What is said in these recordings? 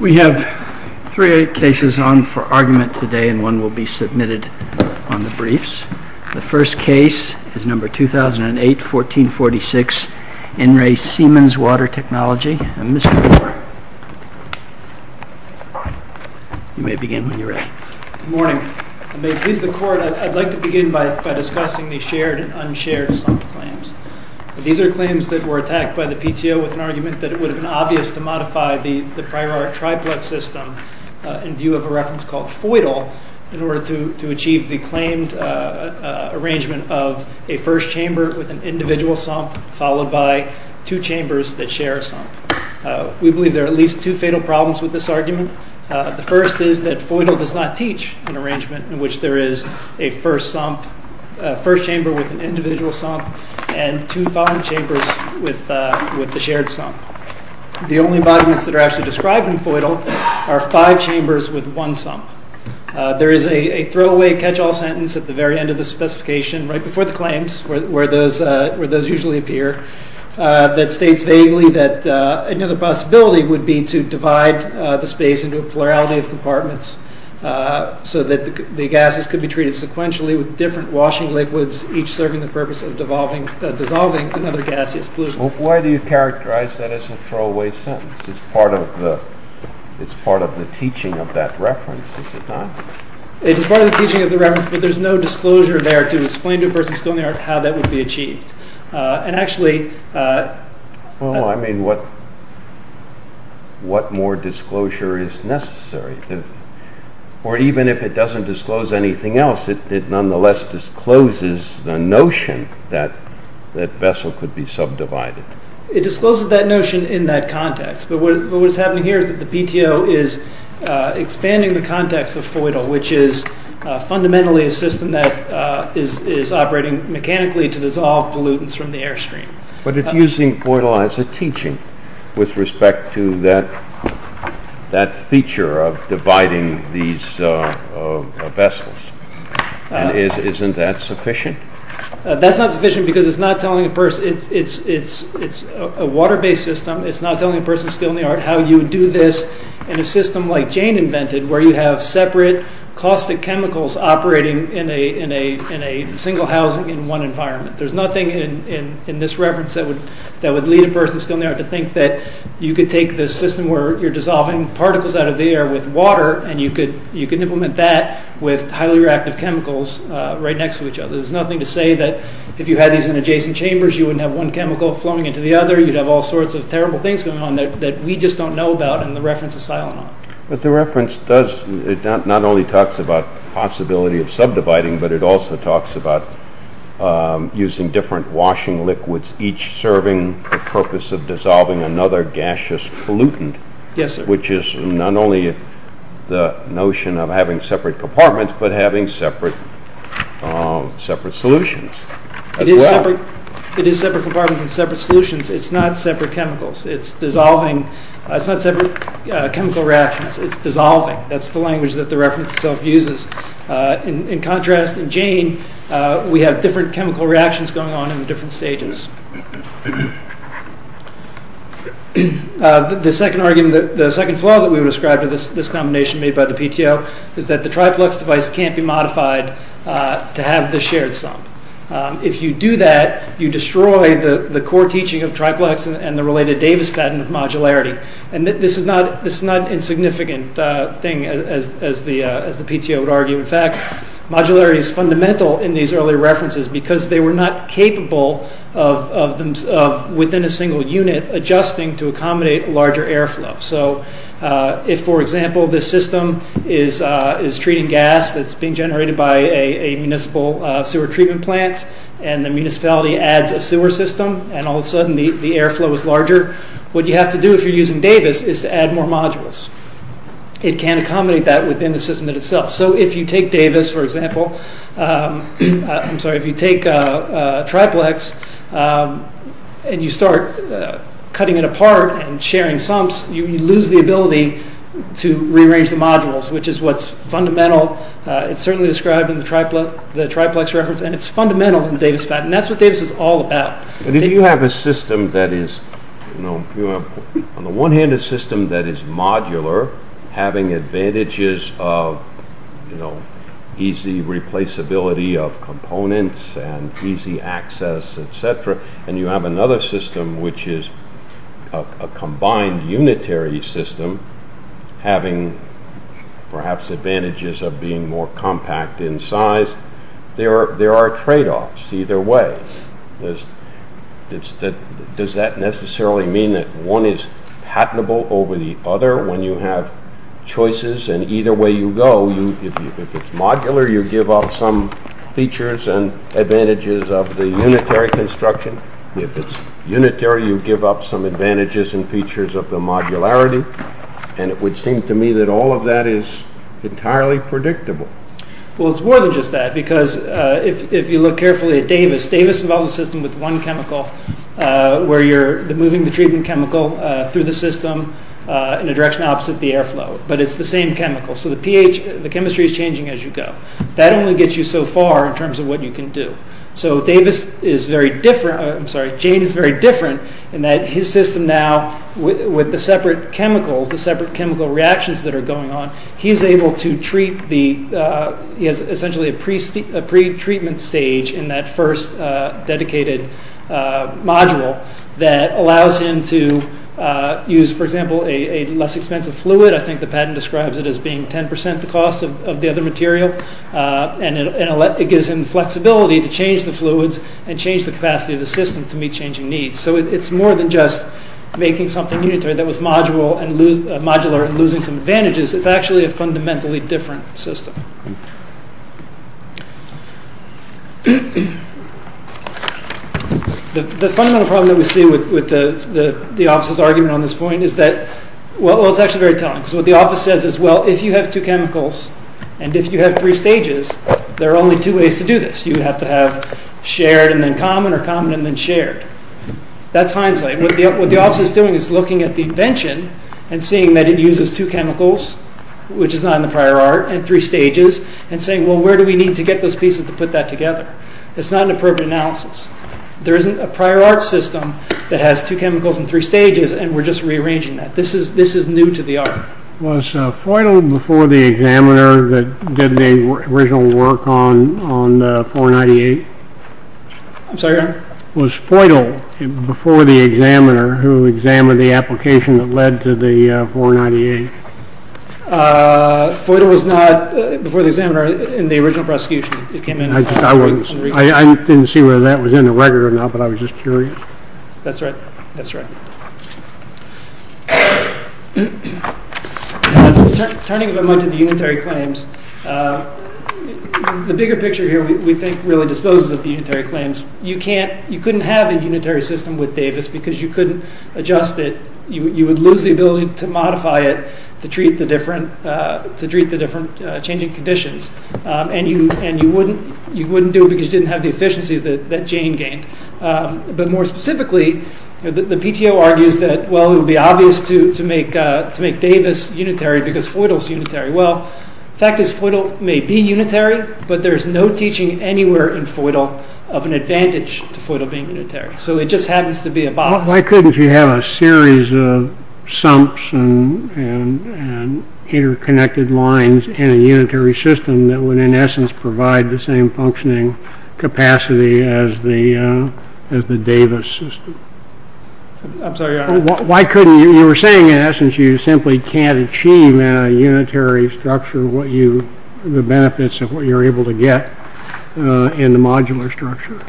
We have three cases on for argument today and one will be submitted on the briefs. The first case is number 2008-1446 In Re Siemens Water Technology and Mr. Gore. You may begin when you're ready. Good morning. I'd like to begin by discussing the shared and unshared slump claims. These are claims that were attacked by the PTO with an attempt to modify the triplet system in view of a reference called FOIDL in order to achieve the claimed arrangement of a first chamber with an individual slump followed by two chambers that share a slump. We believe there are at least two fatal problems with this argument. The first is that FOIDL does not teach an arrangement in which there is a first chamber with an individual slump and two following chambers with the shared slump. The only arguments that are actually described in FOIDL are five chambers with one slump. There is a throwaway catch-all sentence at the very end of the specification right before the claims where those usually appear that states vaguely that another possibility would be to divide the space into a plurality of compartments so that the gases could be treated sequentially with different washing liquids each serving the purpose of dissolving another gaseous pollutant. Why do you characterize that as a throwaway sentence? It's part of the teaching of that reference, is it not? It is part of the teaching of that reference, but there is no disclosure there to explain to a person who is going there how that would be achieved. And actually... Well, I mean, what more disclosure is necessary? Or even if it doesn't disclose anything else, it nonetheless discloses the notion that that vessel could be subdivided. It discloses that notion in that context, but what is happening here is that the PTO is expanding the context of FOIDL, which is fundamentally a system that is operating mechanically to dissolve pollutants from the air stream. But it's using FOIDL as a teaching with respect to that feature of dividing these vessels. Isn't that sufficient? That's not sufficient because it's not telling a person... It's a water-based system. It's not telling a person still in the art how you do this in a system like Jane invented where you have separate caustic chemicals operating in a single housing in one environment. There's nothing in this reference that would lead a person still in the art to think that you could take this system where you're dissolving particles out of the air with water and you could implement that with highly reactive chemicals right next to each other. There's nothing to say that if you had these in adjacent chambers, you wouldn't have one chemical flowing into the other. You'd have all sorts of terrible things going on that we just don't know about in the reference to silanon. But the reference does... It not only talks about possibility of subdividing, but it also talks about using different washing liquids, each serving the purpose of dissolving another gaseous pollutant. Yes, sir. Which is not only the notion of having separate compartments, but having separate solutions as well. It is separate compartments and separate solutions. It's not separate chemicals. It's dissolving. It's not separate chemical reactions. It's dissolving. That's the language that the reference itself uses. In contrast, in Jane, we have different chemical reactions going on in different stages. The second flaw that we would ascribe to this combination made by the PTO is that the triplex device can't be modified to have the shared sump. If you do that, you destroy the core teaching of triplex and the related Davis patent of modularity. And this is not an insignificant thing, as the PTO would argue. In fact, modularity is fundamental in these earlier references because they were not capable of, within a single unit, adjusting to accommodate larger airflow. So if, for example, this system is treating gas that's being generated by a municipal sewer treatment plant, and the municipality adds a sewer system, and all of a sudden the airflow is larger, what you have to do if you're using Davis is to add more modules. It can't accommodate that within the system itself. So if you take Davis, for example, I'm sorry, if you take triplex and you start cutting it apart and sharing sumps, you lose the ability to rearrange the modules, which is what's fundamental. It's certainly described in the triplex reference, and it's fundamental in the Davis patent. That's what Davis is all about. If you have a system that is, on the one hand, a system that is modular, having advantages of easy replaceability of components and easy access, etc., and you have another system which is a combined unitary system, having perhaps advantages of being more compact in size, there are trade-offs either way. Does that necessarily mean that one is patentable over the other when you have choices? And either way you go, if it's modular, you give up some features and advantages of the unitary construction. If it's unitary, you give up some advantages and features of the modularity. And it would seem to me that all of that is entirely predictable. Well, it's more than just that. Because if you look carefully at Davis, Davis involves a system with one chemical where you're moving the treatment chemical through the system in a direction opposite the airflow. But it's the same chemical. So the chemistry is changing as you go. That only gets you so far in terms of what you can do. So Davis is very different, I'm sorry, Jane is very different in that his system now, with the separate chemicals, the separate chemical reactions that are going on, he's able to treat the, he has essentially a pretreatment stage in that first dedicated module that allows him to use, for example, a less expensive fluid. I think the patent describes it as being 10% the cost of the other material. And it gives him flexibility to change the fluids and change the capacity of the system to meet changing needs. So it's more than just making something unitary that was modular and losing some advantages. It's actually a fundamentally different system. The fundamental problem that we see with the office's argument on this point is that, well, it's actually very telling. Because what the office says is, well, if you have two chemicals and if you have three stages, there are only two ways to do this. You have to have shared and then common, or common and then shared. That's Heinzle. What the office is doing is looking at the invention and seeing that it uses two chemicals, which is not in the prior art, and three stages and saying, well, where do we need to get those pieces to put that together? It's not an appropriate analysis. There isn't a prior art system that has two chemicals and three stages and we're just rearranging that. This is new to the art. Was Feudal before the examiner that did the original work on 498? I'm sorry? Was Feudal before the examiner who examined the application that led to the 498? Feudal was not before the examiner in the original prosecution. I didn't see whether that was in the record or not, but I was just curious. That's right. Turning a bit more to the unitary claims, the bigger picture here we think really disposes of the unitary claims. You couldn't have a unitary system with Davis because you couldn't adjust it. You would lose the ability to modify it to treat the different changing conditions. You wouldn't do it because you didn't have the efficiencies that Jane gained. More specifically, the PTO argues that it would be obvious to make Davis unitary because Feudal is unitary. The fact is Feudal may be unitary, but there's no teaching anywhere in Feudal of an advantage to Feudal being unitary. It just happens to be a box. Why couldn't you have a series of sumps and interconnected lines in a unitary system that would in essence provide the same functioning capacity as the Davis system? I'm sorry? You were saying in essence you simply can't achieve in a unitary structure the benefits of what you're able to get in the modular structure.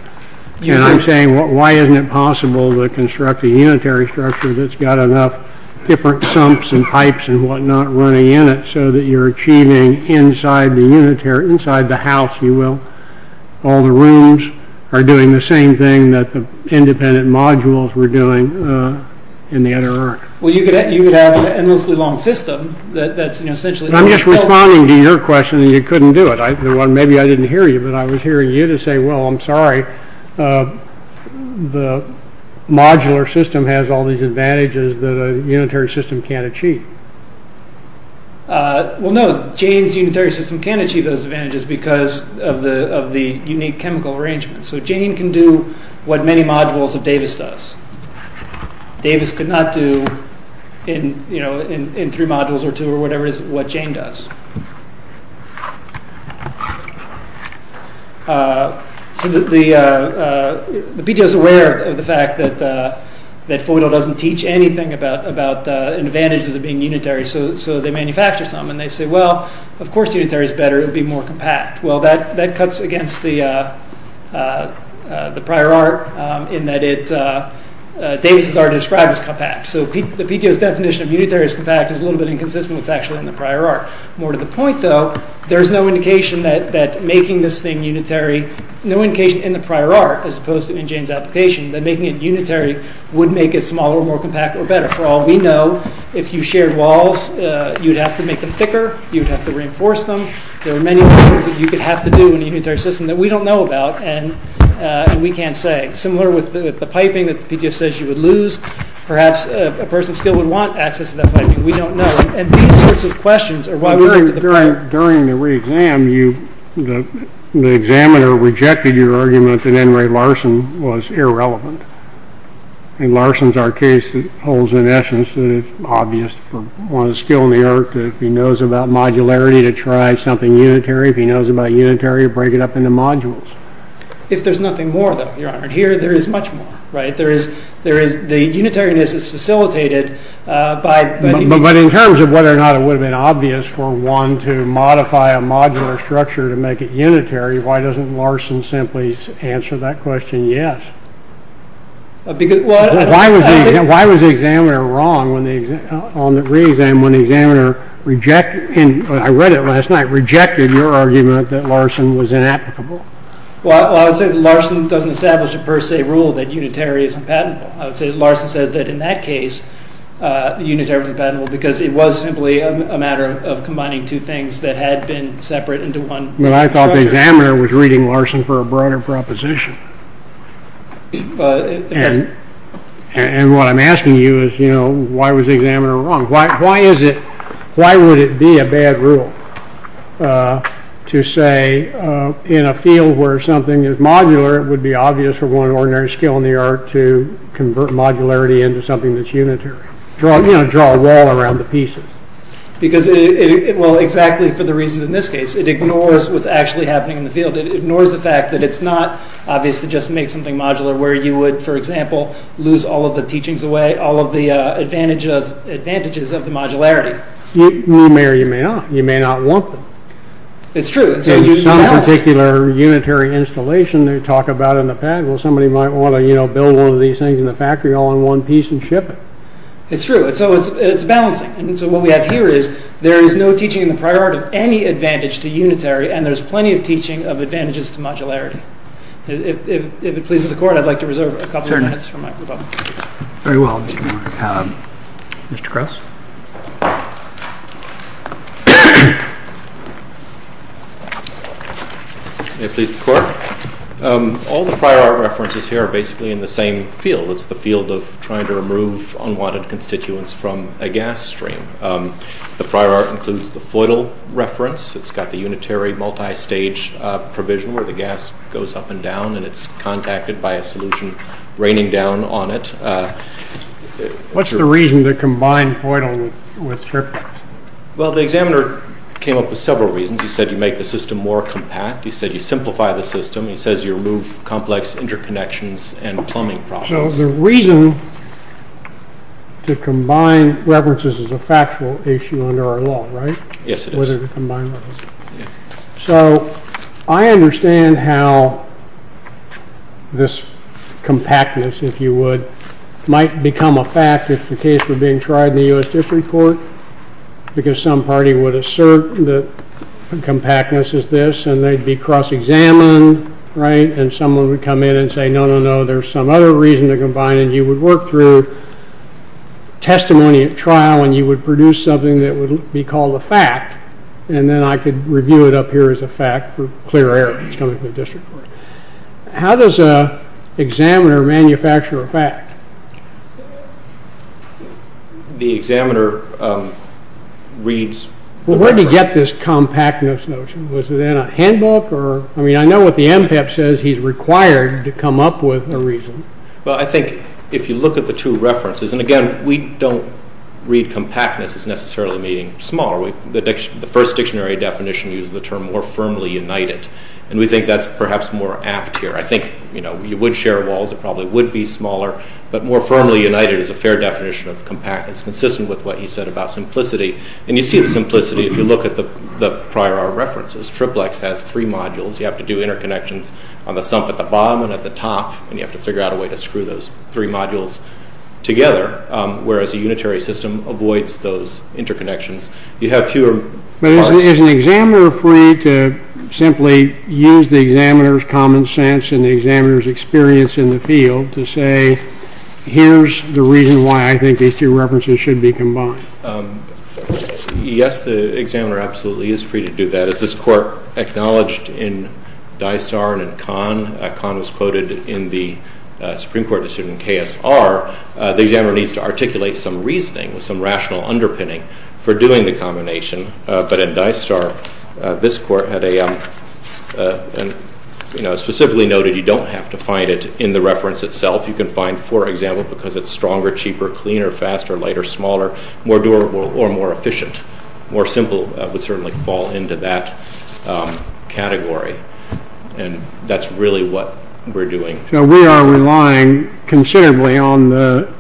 I'm saying why isn't it possible to construct a unitary structure that's got enough different sumps and pipes and whatnot running in it so that you're achieving inside the house, you will. All the rooms are doing the same thing that the independent modules were doing in the other earth. You could have an endlessly long system that's essentially... I'm just responding to your question and you couldn't do it. Maybe I didn't hear you, but I was hearing you to say, well, I'm sorry, the modular system has all these advantages that a unitary system can't achieve. Well, no, Jane's unitary system can achieve those advantages because of the unique chemical arrangement. So Jane can do what many modules of Davis does. Davis could not do, in three modules or two or whatever it is, what Jane does. So the PDO is aware of the fact that FOIDL doesn't teach anything about advantages of being unitary so they manufacture some and they say, well, of course unitary is better, it would be more compact. Well, that cuts against the prior art in that Davis has already described as compact. So the PDO's definition of unitary as compact is a little bit inconsistent with what's actually in the prior art. More to the point, though, there's no indication that making this thing unitary, no indication in the prior art as opposed to in Jane's application that making it unitary would make it smaller, more compact, or better. For all we know, if you shared walls, you'd have to make them thicker, you'd have to reinforce them. There are many things that you could have to do in a unitary system that we don't know about and we can't say. Similar with the piping that the PDO says you would lose, perhaps a person still would want access to that piping, we don't know. And these sorts of questions are why we went to the prior... During the re-exam, the examiner rejected your argument that N. Ray Larson was irrelevant. In Larson's art case, it holds in essence that it's obvious for one of the skill in the art that if he knows about modularity to try something unitary, if he knows about unitary, to break it up into modules. If there's nothing more though, Your Honor. Here there is much more. The unitariness is facilitated by... But in terms of whether or not it would have been obvious for one to modify a modular structure to make it unitary, why doesn't Larson simply answer that question yes? Because... Why was the examiner wrong on the re-exam when the examiner rejected... your argument that Larson was inapplicable? Well, I would say that Larson doesn't establish a per se rule that unitary is compatible. I would say that Larson says that in that case, unitary was compatible because it was simply a matter of combining two things that had been separate into one structure. But I thought the examiner was reading Larson for a broader proposition. And what I'm asking you is, you know, why was the examiner wrong? Why is it... Why would it be a bad rule to say in a field where something is modular, it would be obvious for one ordinary skill in the art to convert modularity into something that's unitary. You know, draw a wall around the pieces. Because it... Well, exactly for the reasons in this case. It ignores what's actually happening in the field. It ignores the fact that it's not obviously just make something modular where you would, for example, lose all of the teachings away, all of the advantages of the modularity. You may or you may not. You may not want them. It's true. Some particular unitary installation they talk about in the past, somebody might want to build one of these things in the factory all in one piece and ship it. It's true. It's balancing. And so what we have here is there is no teaching in the prior art of any advantage to unitary and there's plenty of teaching of advantages to modularity. If it pleases the court, I'd like to reserve a couple of minutes for microphone. Very well. Mr. Krauss? May it please the court? All the prior art references here are basically in the same field. It's the field of trying to remove unwanted constituents from a gas stream. The prior art includes the Feudal reference. It's got the unitary multi-stage provision where the gas goes up and down and it's contacted by a solution raining down on it. What's the reason to combine Feudal with Herpet? Well, the examiner came up with several reasons. He said you make the system more compact. He said you simplify the system. He says you remove complex interconnections and plumbing problems. So the reason to combine references is a factual issue under our law, right? Yes, it is. So, I understand how this compactness, if you would, might become a fact if the case were being tried in the US District Court because some party would assert that compactness is this and they'd be cross-examined, right? And someone would come in and say, no, no, no, there's some other reason to combine and you would work through testimony at trial and you would produce something that would be called a fact and then I could review it up here as a fact for clear error. How does a examiner manufacture a fact? The examiner reads Well, where did he get this compactness notion? Was it in a handbook? I mean, I know what the MPEP says. He's required to come up with a reason. Well, I think if you look at the two references, and again, we don't read compactness as necessarily meaning small. The first dictionary definition uses the term more firmly united and we think that's perhaps more apt here. I think, you know, you would share walls. It probably would be smaller but more firmly united is a fair definition of compactness consistent with what he said about simplicity and you see the simplicity if you look at the prior hour references. Triplex has three modules. You have to do interconnections on the sump at the bottom and at the top and you have to figure out a way to screw those three modules together, whereas a unitary system avoids those interconnections. You have fewer parts. But is an examiner free to simply use the examiner's common sense and the examiner's experience in the field to say here's the reason why I think these two references should be combined? Yes, the examiner absolutely is free to do that. As this court acknowledged in Dystar and in Kahn, Kahn was quoted in the Supreme Court decision in KSR, the examiner needs to articulate some reasoning with some rational underpinning for doing the combination, but in Dystar this court had a specifically noted you don't have to find it in the reference itself. You can find, for example, because it's stronger, cheaper, cleaner, faster, lighter, smaller, more durable or more efficient. More simple would certainly fall into that category and that's really what we're doing. So we are relying considerably on the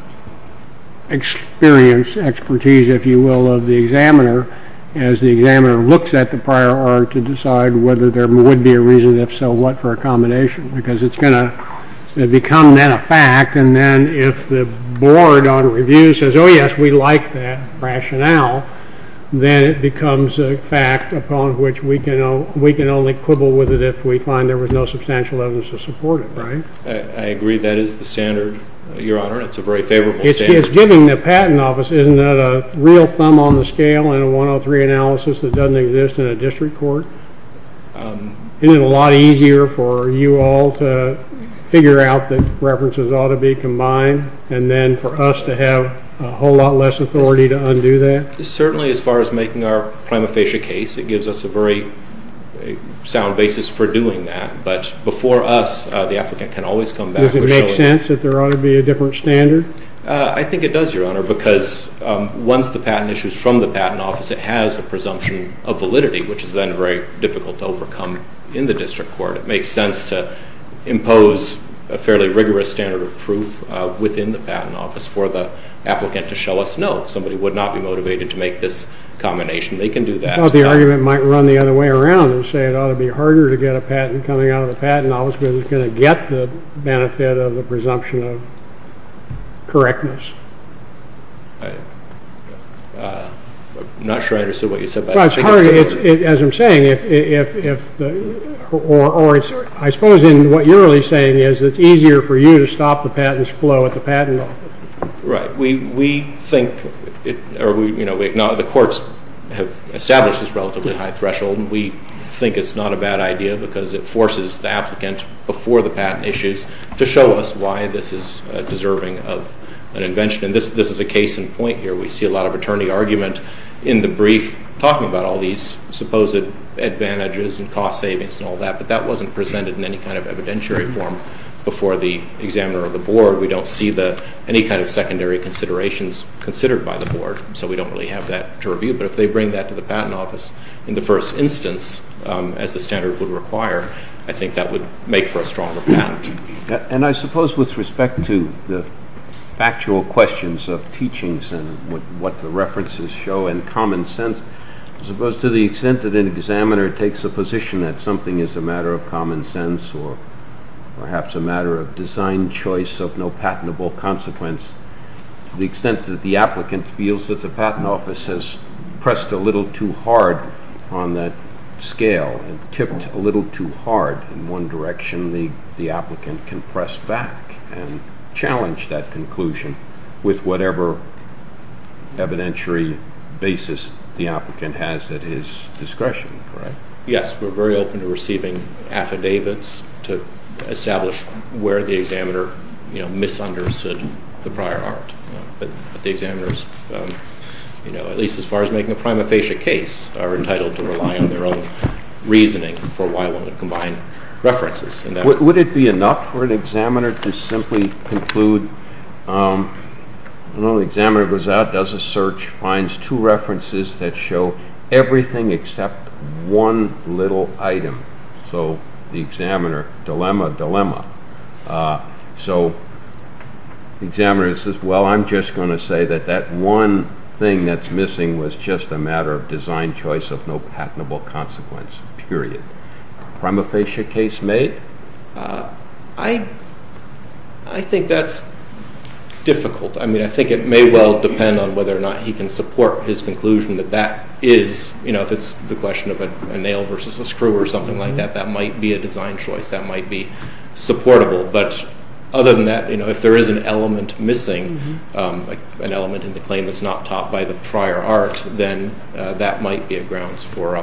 experience, expertise, if you will, of the examiner as the examiner looks at the prior art to decide whether there would be a reason, if so, what for a combination because it's going to become then a fact and then if the board on review says oh yes, we like that rationale then it becomes a fact upon which we can only quibble with it if we find there was no substantial evidence to support it, right? I agree that is the standard your honor, it's a very favorable standard. It's giving the patent office, isn't that a real thumb on the scale in a 103 analysis that doesn't exist in a district court? Isn't it a lot easier for you all to figure out that references ought to be combined and then for us to have a whole lot less authority to undo that? Certainly as far as making our prima facie case it gives us a very sound basis for doing that but before us the applicant can always come back and show it. Does it make sense that there ought to be a different standard? I think it does your honor because once the patent issues from the patent office it has a presumption of validity which is then very difficult to overcome in the district court. It makes sense to impose a fairly rigorous standard of proof within the patent office for the applicant to show us, no somebody would not be motivated to make this combination, they can do that. I thought the argument might run the other way around and say it ought to be harder to get a patent coming out of the patent office because it's going to get the benefit of the presumption of correctness. I'm not sure I understood what you said there. As I'm saying I suppose what you're really saying is it's easier for you to stop the Right. We think the courts have established this relatively high threshold and we think it's not a bad idea because it forces the applicant before the patent issues to show us why this is deserving of an invention and this is a case in point here. We see a lot of attorney argument in the brief talking about all these supposed advantages and cost savings and all that but that wasn't presented in any kind of evidentiary form before the examiner or the board we don't see any kind of secondary considerations considered by the board so we don't really have that to review but if they bring that to the patent office in the first instance as the standard would require, I think that would make for a stronger patent. And I suppose with respect to the factual questions of teachings and what the references show and common sense, I suppose to the extent that an examiner takes a position that something is a matter of common sense or perhaps a matter of design choice of no patentable consequence, to the extent that the applicant feels that the patent office has pressed a little too hard on that scale and tipped a little too hard in one direction, the applicant can press back and challenge that conclusion with whatever evidentiary basis the applicant has at his discretion. Yes, we're very open to receiving affidavits to establish where the examiner misunderstood the prior art but the examiners at least as far as making a prima facie case are entitled to rely on their own reasoning for why one would combine references. Would it be enough for an examiner to simply conclude when the examiner goes out does a search, finds two references that show everything except one little item so the examiner dilemma, dilemma so the examiner says well I'm just going to say that that one thing that's missing was just a matter of design choice of no patentable consequence period. Prima facie case made? I think that's difficult I mean I think it may well depend on whether or not he can support his conclusion that that is, you know, if it's the question of a nail versus a screw or something like that that might be a design choice that might be supportable but other than that if there is an element missing, an element in the claim that's not taught by the prior art then that might be a grounds for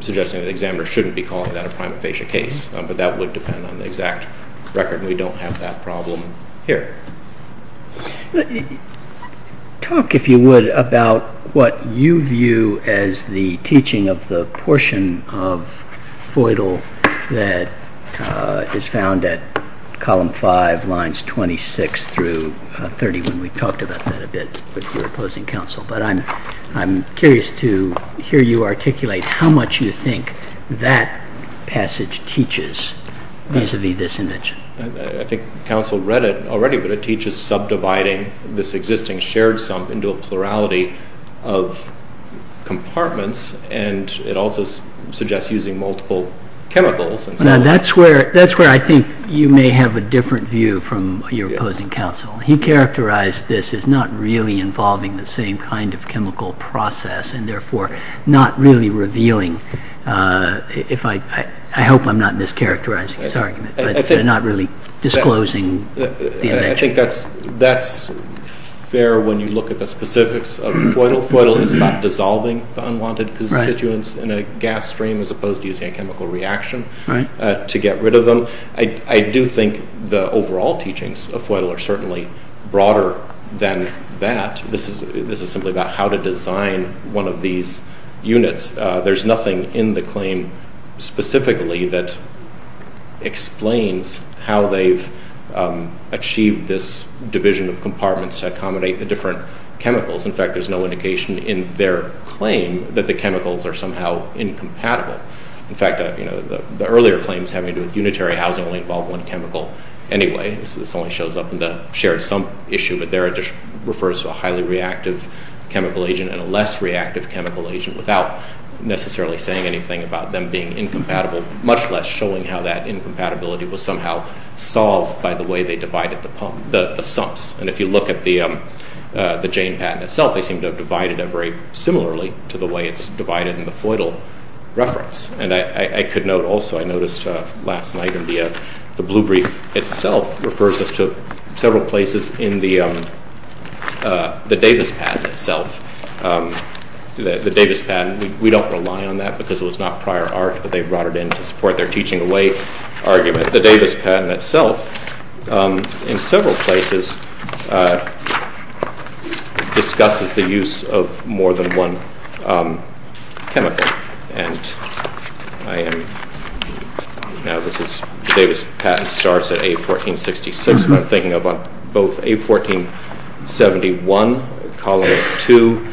suggesting the examiner shouldn't be calling that a prima facie case but that would depend on the exact record and we don't have that problem here. Talk if you would about what you view as the teaching of the portion of Feudal that is found at column 5 lines 26 through 31 we talked about that a bit with your opposing counsel but I'm curious to hear you articulate how much you think that passage teaches vis-a-vis this invention. I think counsel read it already but it teaches subdividing this existing shared sum into a plurality of compartments and it also suggests using multiple chemicals Now that's where I think you may have a different view from your opposing counsel. He characterized this as not really involving the same kind of chemical process and therefore not really revealing if I hope I'm not mischaracterizing this argument but not really disclosing the invention. I think that's fair when you look at the specifics of Feudal. Feudal is about dissolving the unwanted constituents in a gas stream as opposed to using a chemical reaction to get rid of them I do think the overall teachings of Feudal are certainly broader than that this is simply about how to design one of these units there's nothing in the claim specifically that explains how they've achieved this division of compartments to accommodate the different chemicals in fact there's no indication in their claim that the chemicals are somehow incompatible in fact the earlier claims having to do with unitary housing only involve one chemical anyway. This only shows up in the shared sum issue but there it just refers to a highly reactive chemical agent and a less reactive chemical agent without necessarily saying anything about them being incompatible much less showing how that incompatibility was somehow solved by the way they divided the sums and if you look at the Jane patent itself they seem to have divided it very similarly to the way it's divided in the Feudal reference and I could note also I noticed last night in the blue brief itself refers us to several places in the Davis patent itself the Davis patent, we don't rely on that because it was not prior art but they brought it in to support their teaching away argument the Davis patent itself in several places discusses the use of more than one chemical and I am now this is Davis patent starts at A1466 but I'm thinking of both A1471 column 2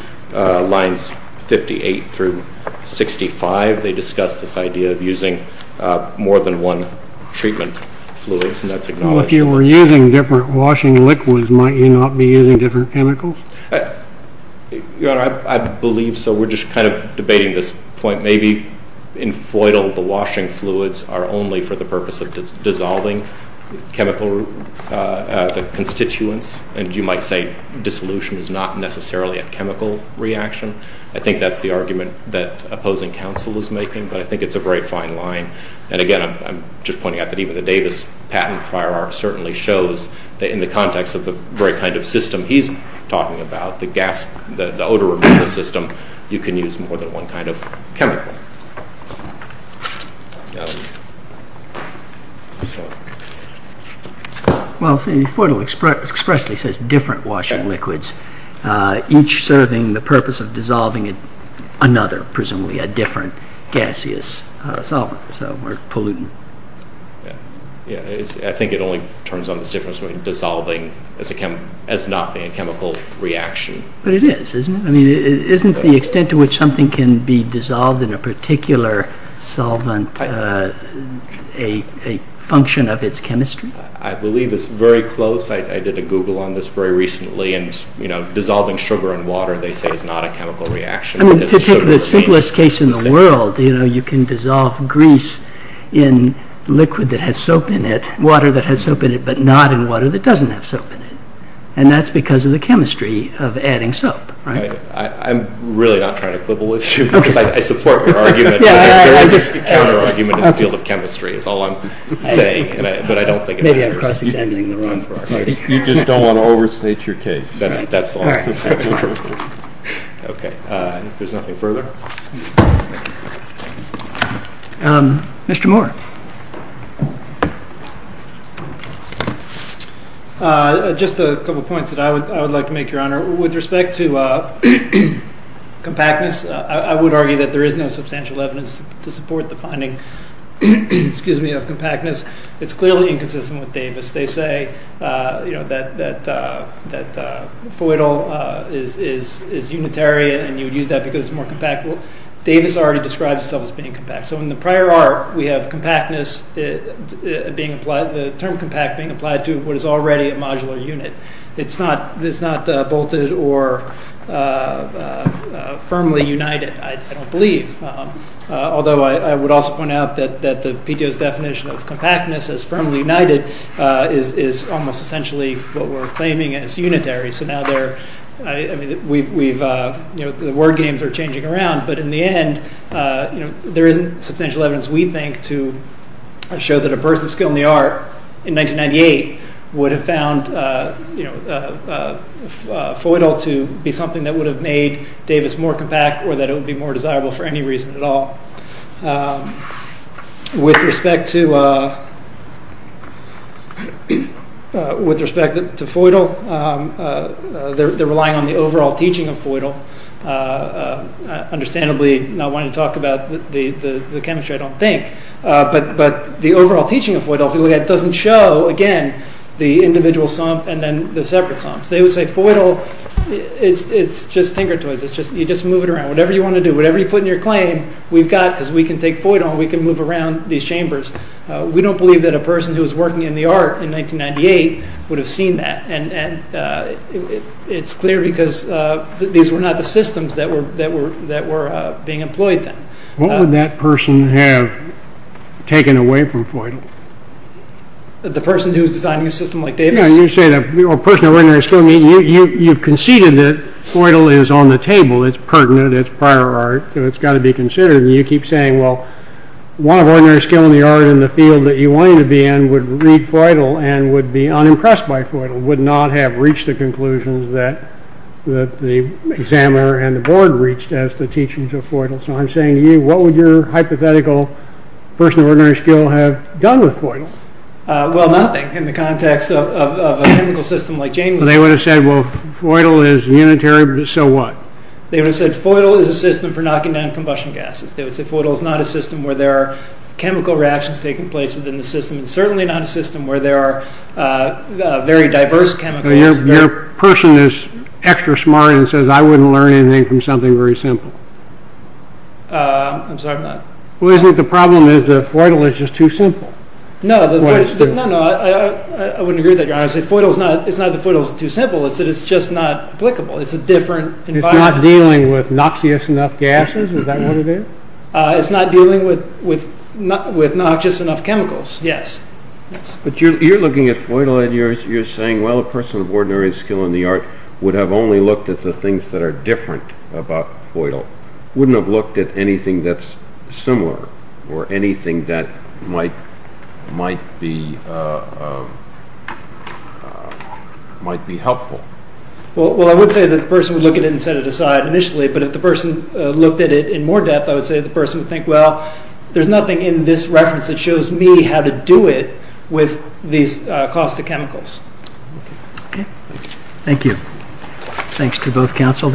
lines 58 through 65 they discuss this idea of using more than one treatment fluids and that's acknowledged if you were using different washing liquids might you not be using different chemicals I believe so we're just kind of debating this point maybe in Feudal the washing fluids are only for the purpose of dissolving chemical constituents and you might say dissolution is not necessarily a chemical reaction I think that's the but I think it's a very fine line and again I'm just pointing out that even the Davis patent prior art certainly shows that in the context of the kind of system he's talking about the gas, the odor removal system you can use more than one kind of chemical expressly says different washing liquids each serving the purpose of dissolving another presumably a different gaseous solvent or pollutant I think it only turns on this difference between dissolving as not being a chemical reaction but it is isn't the extent to which something can be dissolved in a particular solvent a function of its chemistry I believe it's very close I did a google on this very recently and you know dissolving sugar and to take the simplest case in the world you know you can dissolve grease in liquid that has soap in it, water that has soap in it but not in water that doesn't have soap in it and that's because of the chemistry of adding soap I'm really not trying to quibble with you because I support your argument there is a counter argument in the field of chemistry is all I'm saying but I don't think it matters you just don't want to overstate your case that's all okay if there's nothing further Mr. Moore just a couple points that I would like to make your honor with respect to compactness I would argue that there is no substantial evidence to support the finding of compactness it's clearly inconsistent with Davis they say that that Feudal is unitary and you would use that because it's more compact Davis already described itself as being compact so in the prior art we have compactness being applied the term compact being applied to what is already a modular unit it's not bolted or firmly united I don't believe although I would also point out that the PTO's definition of compactness as firmly united is almost essentially what we're claiming as unitary so now there the word games are changing around but in the end there isn't substantial evidence we think to show that a person of skill in the art in 1998 would have found Feudal to be something that would have made Davis more compact or that it would be more desirable for any reason at all with respect to with respect to Feudal they're relying on the overall teaching of Feudal understandably not wanting to talk about the chemistry I don't think but the overall teaching of Feudal doesn't show again the individual sump and then the separate sumps they would say Feudal it's just tinker toys you just move it around, whatever you want to do, whatever you put in your claim we've got because we can take Feudal and we can move around these chambers we don't believe that a person who was working in the art in 1998 would have seen that it's clear because these were not the systems that were being employed then what would that person have taken away from Feudal the person who was designing a system like Davis you've conceded that Feudal is on the table it's pertinent, it's prior art it's got to be considered you keep saying one of ordinary skill in the art in the field that you wanted to be in would read Feudal and would be unimpressed by Feudal would not have reached the conclusions that the examiner and the board reached as the teaching of Feudal so I'm saying to you what would your hypothetical person of ordinary skill have done with Feudal nothing in the context of a chemical system like Jameson they would have said Feudal is unitary so what they would have said Feudal is a system for knocking down combustion gases they would say Feudal is not a system where there are chemical reactions certainly not a system where there are very diverse chemicals your person is extra smart and says I wouldn't learn anything from something very simple I'm sorry I'm not the problem is that Feudal is just too simple no I wouldn't agree with that it's not that Feudal is too simple it's just not applicable it's a different environment it's not dealing with noxious enough gases is that what it is? it's not dealing with noxious enough chemicals yes but you're looking at Feudal and you're saying well a person of ordinary skill in the art would have only looked at the things that are different about Feudal wouldn't have looked at anything that's similar or anything that might be might be helpful well I would say that the person would look at it and set it aside initially but if the person looked at it in more depth I would say that the person would think well there's nothing in this reference that shows me how to do it with these cost of chemicals thank you thanks to both council